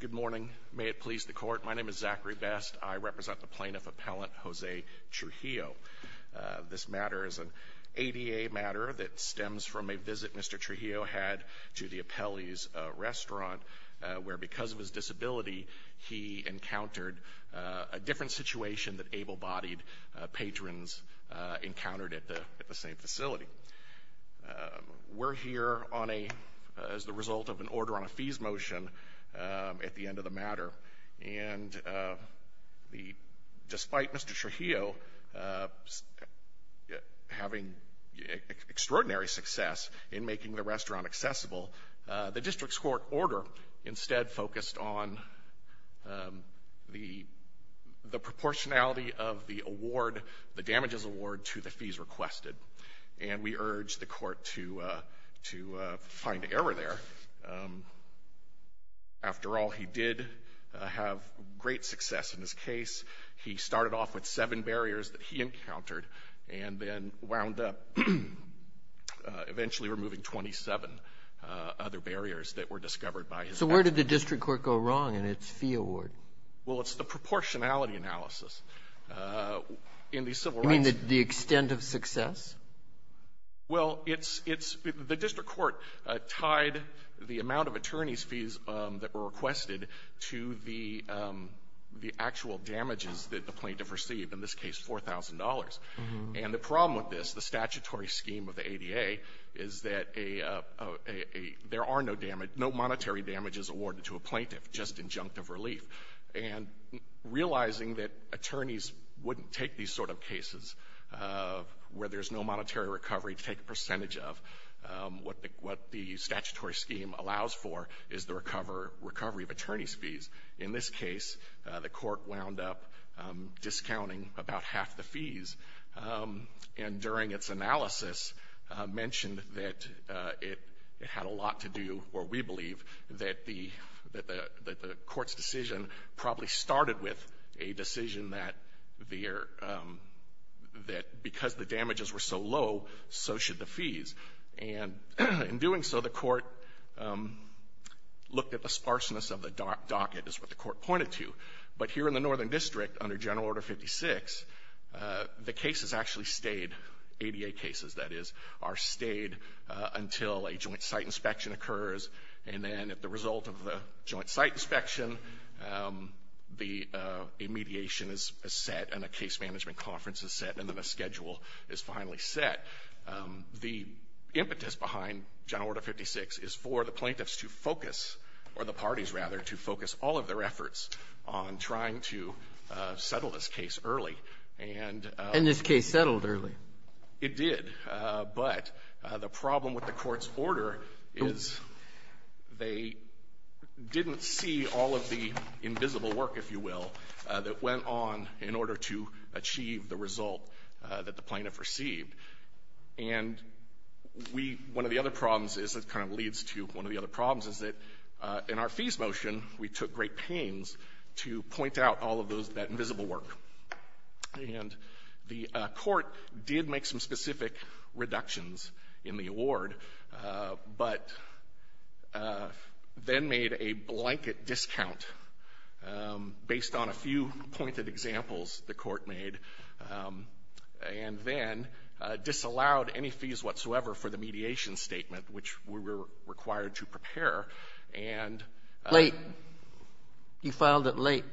Good morning. May it please the court. My name is Zachary Best. I represent the plaintiff appellant Jose Trujillo. This matter is an ADA matter that stems from a visit Mr. Trujillo had to the appellee's restaurant where, because of his disability, he encountered a different situation than able-bodied patrons encountered at the same facility. We're here as the result of an order on a fees motion at the end of the matter. Despite Mr. Trujillo having extraordinary success in making the restaurant accessible, the district's court order instead focused on the proportionality of the damages award to the fees requested. And we urge the court to find error there. After all, he did have great success in his case. He started off with seven barriers that he encountered and then wound up eventually removing 27 other barriers that were discovered by his appellant. So where did the district court go wrong in its fee award? Well, it's the proportionality analysis. In the civil rights ---- You mean the extent of success? Well, it's the district court tied the amount of attorney's fees that were requested to the actual damages that the plaintiff received, in this case $4,000. And the problem with this, the statutory scheme of the ADA, is that there are no monetary damages awarded to a plaintiff, just injunctive relief. And realizing that attorneys wouldn't take these sort of cases where there's no monetary recovery to take a percentage of, what the statutory scheme allows for is the recovery of attorney's fees. In this case, the court wound up discounting about half the fees. And during its analysis mentioned that it had a lot to do, or we believe, that the court's decision probably started with a decision that there ---- that because the damages were so low, so should the fees. And in doing so, the court looked at the sparseness of the docket, is what the court pointed to. But here in the Northern District, under General Order 56, the cases actually stayed, ADA cases, that is, are stayed until a joint site inspection occurs. And then at the result of the joint site inspection, the mediation is set and a case management conference is set, and then a schedule is finally set. The impetus behind General Order 56 is for the plaintiffs to focus, or the parties, rather, to focus all of their efforts on trying to settle this case early. And ---- And this case settled early. It did. But the problem with the Court's order is they didn't see all of the invisible work, if you will, that went on in order to achieve the result that the plaintiff received. And we ---- one of the other problems is that kind of leads to one of the other problems is that in our fees motion, we took great pains to point out all of those ---- that invisible work. And the Court did make some specific reductions in the award, but then made a blanket discount based on a few pointed examples the Court made. And then disallowed any fees whatsoever for the mediation statement, which we were required to prepare. And ---- Late. You filed it late.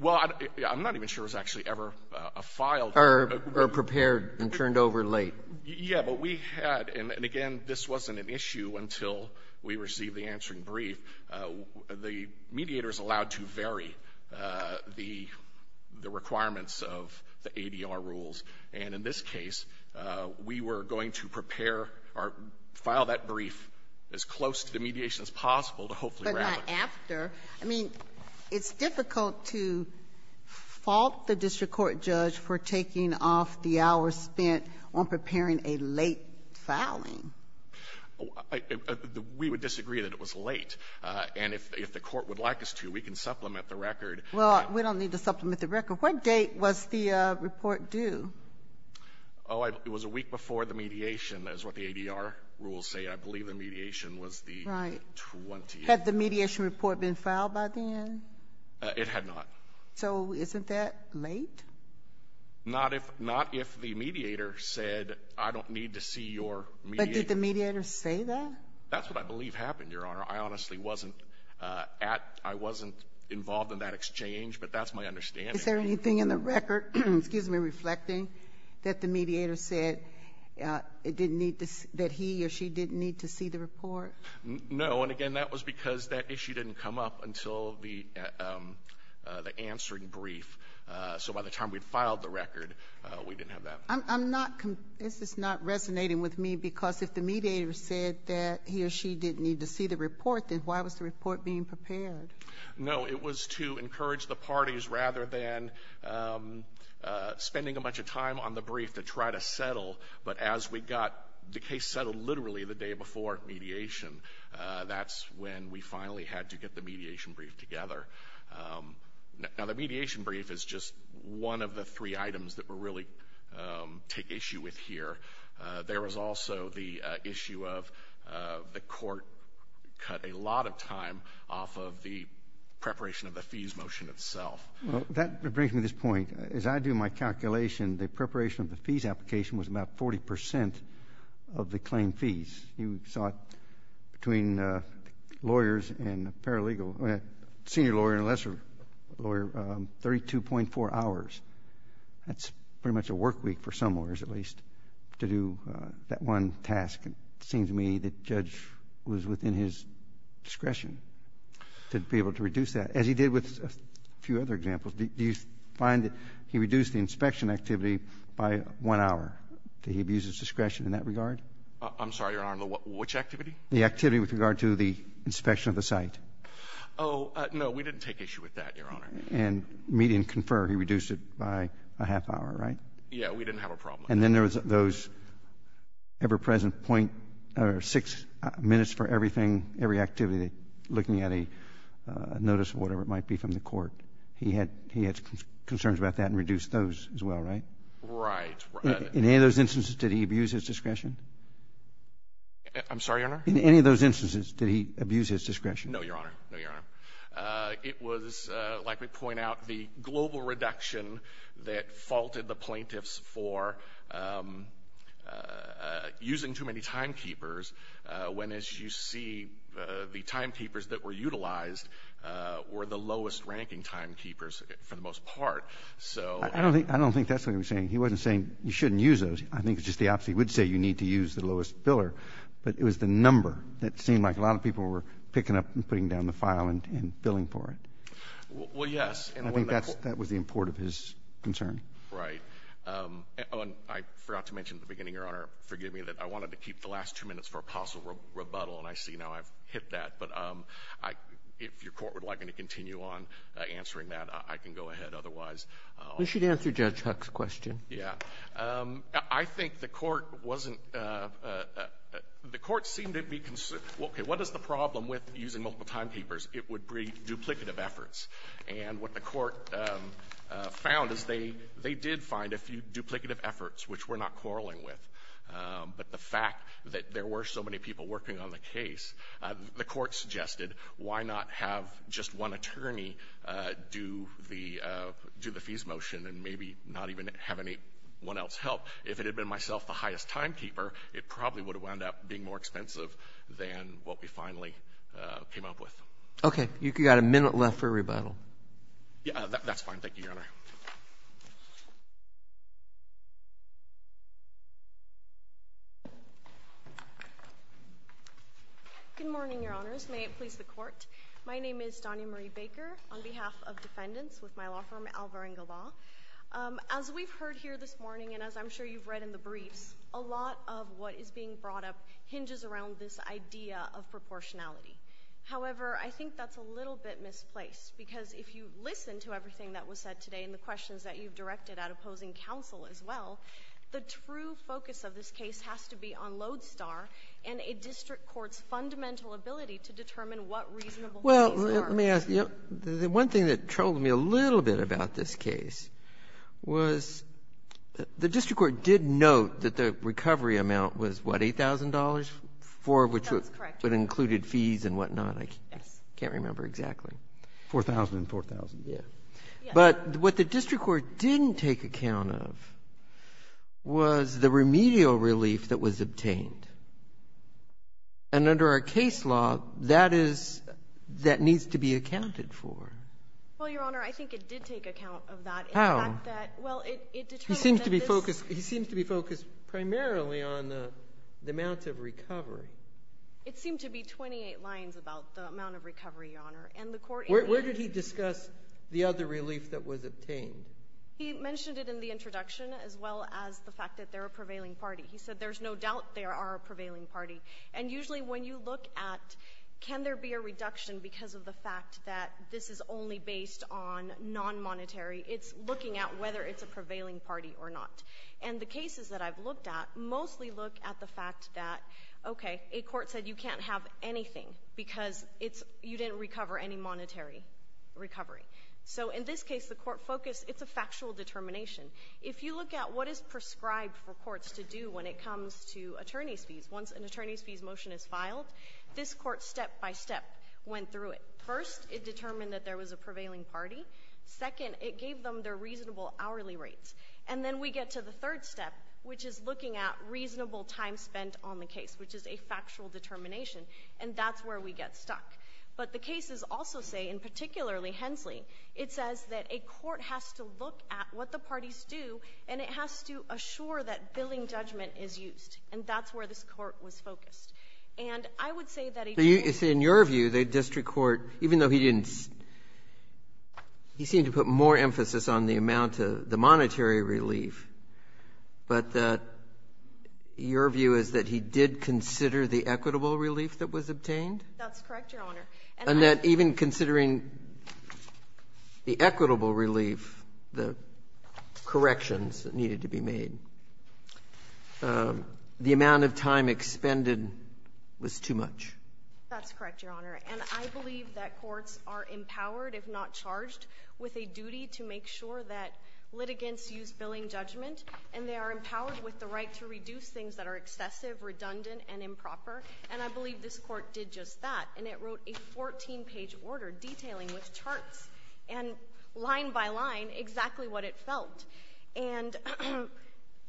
Well, I'm not even sure it was actually ever a filed ---- Or prepared and turned over late. Yes, but we had ---- and again, this wasn't an issue until we received the answering brief. The mediators allowed to vary the requirements of the ADR rules. And in this case, we were going to prepare or file that brief as close to the mediation as possible to hopefully ---- But not after. I mean, it's difficult to fault the district court judge for taking off the hours spent on preparing a late filing. We would disagree that it was late. And if the Court would like us to, we can supplement the record. Well, we don't need to supplement the record. What date was the report due? Oh, it was a week before the mediation, is what the ADR rules say. I believe the mediation was the 20th. Right. Had the mediation report been filed by then? It had not. So isn't that late? Not if the mediator said, I don't need to see your mediator. But did the mediator say that? That's what I believe happened, Your Honor. I honestly wasn't at ---- I wasn't involved in that exchange, but that's my understanding. Is there anything in the record ---- excuse me ---- reflecting that the mediator said it didn't need to ---- that he or she didn't need to see the report? No, and again, that was because that issue didn't come up until the answering brief. So by the time we'd filed the record, we didn't have that. I'm not ---- this is not resonating with me because if the mediator said that he or she didn't need to see the report, then why was the report being prepared? No, it was to encourage the parties rather than spending a bunch of time on the brief to try to settle. But as we got the case settled literally the day before mediation, that's when we finally had to get the mediation brief together. Now, the mediation brief is just one of the three items that we really take issue with here. There was also the issue of the court cut a lot of time off of the preparation of the fees motion itself. Well, that brings me to this point. As I do my calculation, the preparation of the fees application was about 40 percent of the claim fees. You saw it between lawyers and paralegal, senior lawyer and lesser lawyer, 32.4 hours. That's pretty much a work week for some lawyers at least to do that one task. It seems to me that the judge was within his discretion to be able to reduce that, as he did with a few other examples. Do you find that he reduced the inspection activity by one hour? Did he abuse his discretion in that regard? I'm sorry, Your Honor. Which activity? The activity with regard to the inspection of the site. Oh, no. We didn't take issue with that, Your Honor. And median confer, he reduced it by a half hour, right? Yes. We didn't have a problem. And then there was those ever-present point or six minutes for everything, every activity, looking at a notice or whatever it might be from the court. He had concerns about that and reduced those as well, right? Right. In any of those instances, did he abuse his discretion? I'm sorry, Your Honor? In any of those instances, did he abuse his discretion? No, Your Honor. No, Your Honor. It was, like we point out, the global reduction that faulted the plaintiffs for using too many timekeepers, when, as you see, the timekeepers that were utilized were the lowest-ranking timekeepers for the most part. So ---- I don't think that's what he was saying. He wasn't saying you shouldn't use those. I think it's just the opposite. He would say you need to use the lowest filler. But it was the number that seemed like a lot of people were picking up and putting down the file and billing for it. Well, yes. I think that was the import of his concern. Right. I forgot to mention at the beginning, Your Honor, forgive me, that I wanted to keep the last two minutes for a possible rebuttal, and I see now I've hit that. But if your court would like me to continue on answering that, I can go ahead. Otherwise, I'll ---- You should answer Judge Huck's question. Yeah. I think the Court wasn't ---- the Court seemed to be concerned, okay, what is the problem with using multiple timekeepers? It would bring duplicative efforts. And what the Court found is they did find a few duplicative efforts which we're not quarreling with. But the fact that there were so many people working on the case, the Court suggested, why not have just one attorney do the fees motion and maybe not even have anyone else help? If it had been myself, the highest timekeeper, it probably would have wound up being more expensive than what we finally came up with. Okay. You've got a minute left for a rebuttal. Yeah. That's fine. Thank you, Your Honor. Good morning, Your Honors. May it please the Court. My name is Donia Marie Baker on behalf of defendants with my law firm, Alvarenga Law. As we've heard here this morning and as I'm sure you've read in the briefs, a lot of what is being brought up hinges around this idea of proportionality. However, I think that's a little bit misplaced because if you listen to everything that was said today and the questions that you've directed at opposing counsel as well, the true focus of this case has to be on Lodestar and a district court's fundamental ability to determine what reasonable fees are. Well, let me ask you. The one thing that troubled me a little bit about this case was the district court did note that the recovery amount was, what, $8,000 for which it included fees and whatnot. Yes. I can't remember exactly. $4,000 and $4,000. Yes. But what the district court didn't take account of was the remedial relief that was obtained. And under our case law, that is that needs to be accounted for. Well, Your Honor, I think it did take account of that. How? In the fact that, well, it determined that this ---- He seems to be focused primarily on the amount of recovery. It seemed to be 28 lines about the amount of recovery, Your Honor. And the court ---- Where did he discuss the other relief that was obtained? He mentioned it in the introduction as well as the fact that they're a prevailing party. He said there's no doubt they are a prevailing party. And usually when you look at can there be a reduction because of the fact that this is only based on non-monetary, it's looking at whether it's a prevailing party or not. And the cases that I've looked at mostly look at the fact that, okay, a court said you can't have anything because it's you didn't recover any monetary recovery. So in this case, the court focused, it's a factual determination. If you look at what is prescribed for courts to do when it comes to attorney's fees, once an attorney's fees motion is filed, this court step by step went through it. First, it determined that there was a prevailing party. Second, it gave them their reasonable hourly rates. And then we get to the third step, which is looking at reasonable time spent on the case, which is a factual determination. And that's where we get stuck. But the cases also say, and particularly Hensley, it says that a court has to look at what the parties do, and it has to assure that billing judgment is used. And that's where this court was focused. And I would say that a district court ---- Breyer, in your view, the district court, even though he didn't ---- he seemed to put more emphasis on the amount of the monetary relief, but your view is that he did consider the equitable relief that was obtained? That's correct, Your Honor. And that even considering the equitable relief, the corrections that needed to be made, the amount of time expended was too much? That's correct, Your Honor. And I believe that courts are empowered, if not charged, with a duty to make sure that litigants use billing judgment, and they are empowered with the right to reduce things that are excessive, redundant, and improper. And I believe this Court did just that. And it wrote a 14-page order detailing with charts, and line by line, exactly what it felt. And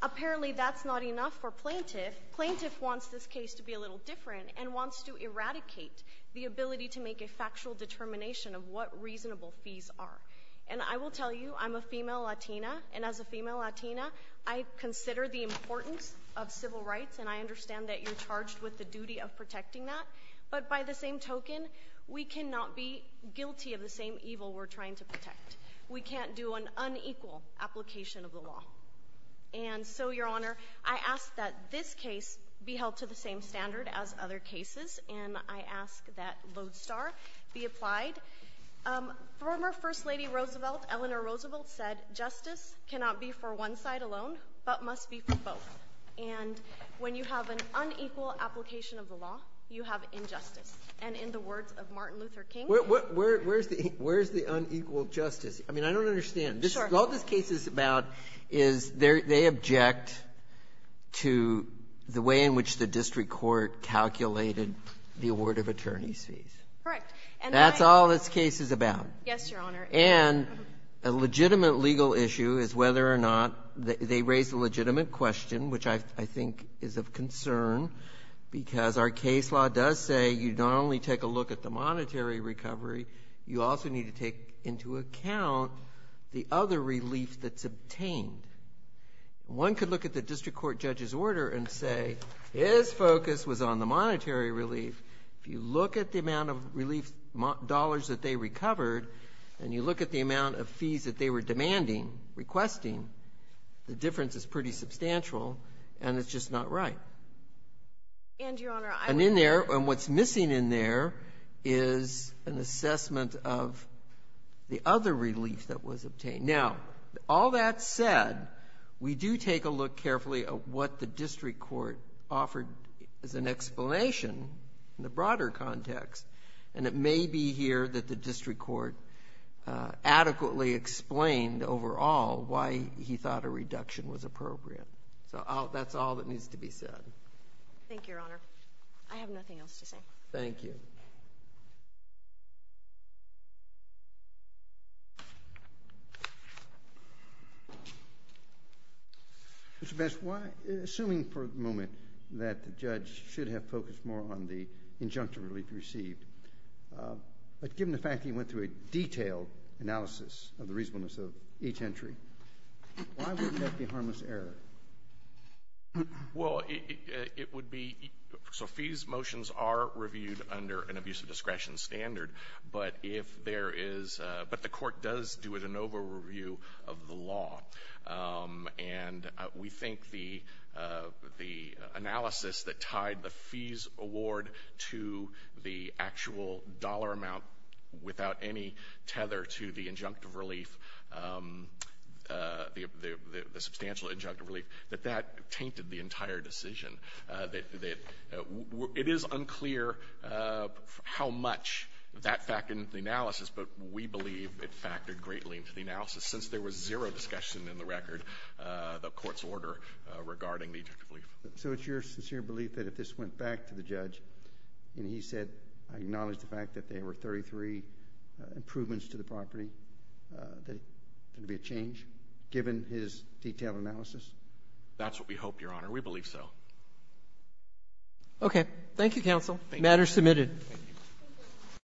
apparently that's not enough for plaintiff. Plaintiff wants this case to be a little different and wants to eradicate the ability to make a factual determination of what reasonable fees are. And I will tell you, I'm a female Latina, and as a female Latina, I consider the importance of civil rights, and I understand that you're charged with the duty of protecting that. But by the same token, we cannot be guilty of the same evil we're trying to protect. We can't do an unequal application of the law. And so, Your Honor, I ask that this case be held to the same standard as other cases, and I ask that Lodestar be applied. Former First Lady Roosevelt, Eleanor Roosevelt, said, Justice cannot be for one side alone, but must be for both. And when you have an unequal application of the law, you have injustice. And in the words of Martin Luther King, Where's the unequal justice? I mean, I don't understand. Sure. All this case is about is they object to the way in which the district court calculated the award of attorney's fees. Correct. And that's all this case is about. Yes, Your Honor. And a legitimate legal issue is whether or not they raise a legitimate question, which I think is of concern, because our case law does say you not only take a look at the monetary recovery, you also need to take into account the other relief that's obtained. One could look at the district court judge's order and say his focus was on the monetary relief. If you look at the amount of relief dollars that they recovered, and you look at the amount of fees that they were demanding, requesting, the difference is pretty substantial, and it's just not right. And, Your Honor, I would argue that And in there, and what's missing in there is an assessment of the other relief that was obtained. Now, all that said, we do take a look carefully at what the district court offered as an explanation in the broader context, and it may be here that the district court adequately explained overall why he thought a reduction was appropriate. So that's all that needs to be said. Thank you, Your Honor. I have nothing else to say. Thank you. Mr. Bess, assuming for a moment that the judge should have focused more on the injunctive relief received, but given the fact that he went through a detailed analysis of the reasonableness of each entry, why wouldn't that be harmless error? Well, it would be, so fees motions are reviewed under an abusive discretion standard, but if there is, but the court does do an over-review of the law, and we think the analysis that tied the fees award to the actual dollar amount without any tether to the injunctive relief, the substantial injunctive relief, that that tainted the entire decision. It is unclear how much that factored into the analysis, but we believe it factored greatly into the analysis since there was zero discussion in the record, the court's order regarding the injunctive relief. So it's your sincere belief that if this went back to the judge and he said, I acknowledge the fact that there were 33 improvements to the property, that it would be a change given his detailed analysis? That's what we hope, Your Honor. We believe so. Okay. Thank you, counsel. Thank you. Matter submitted.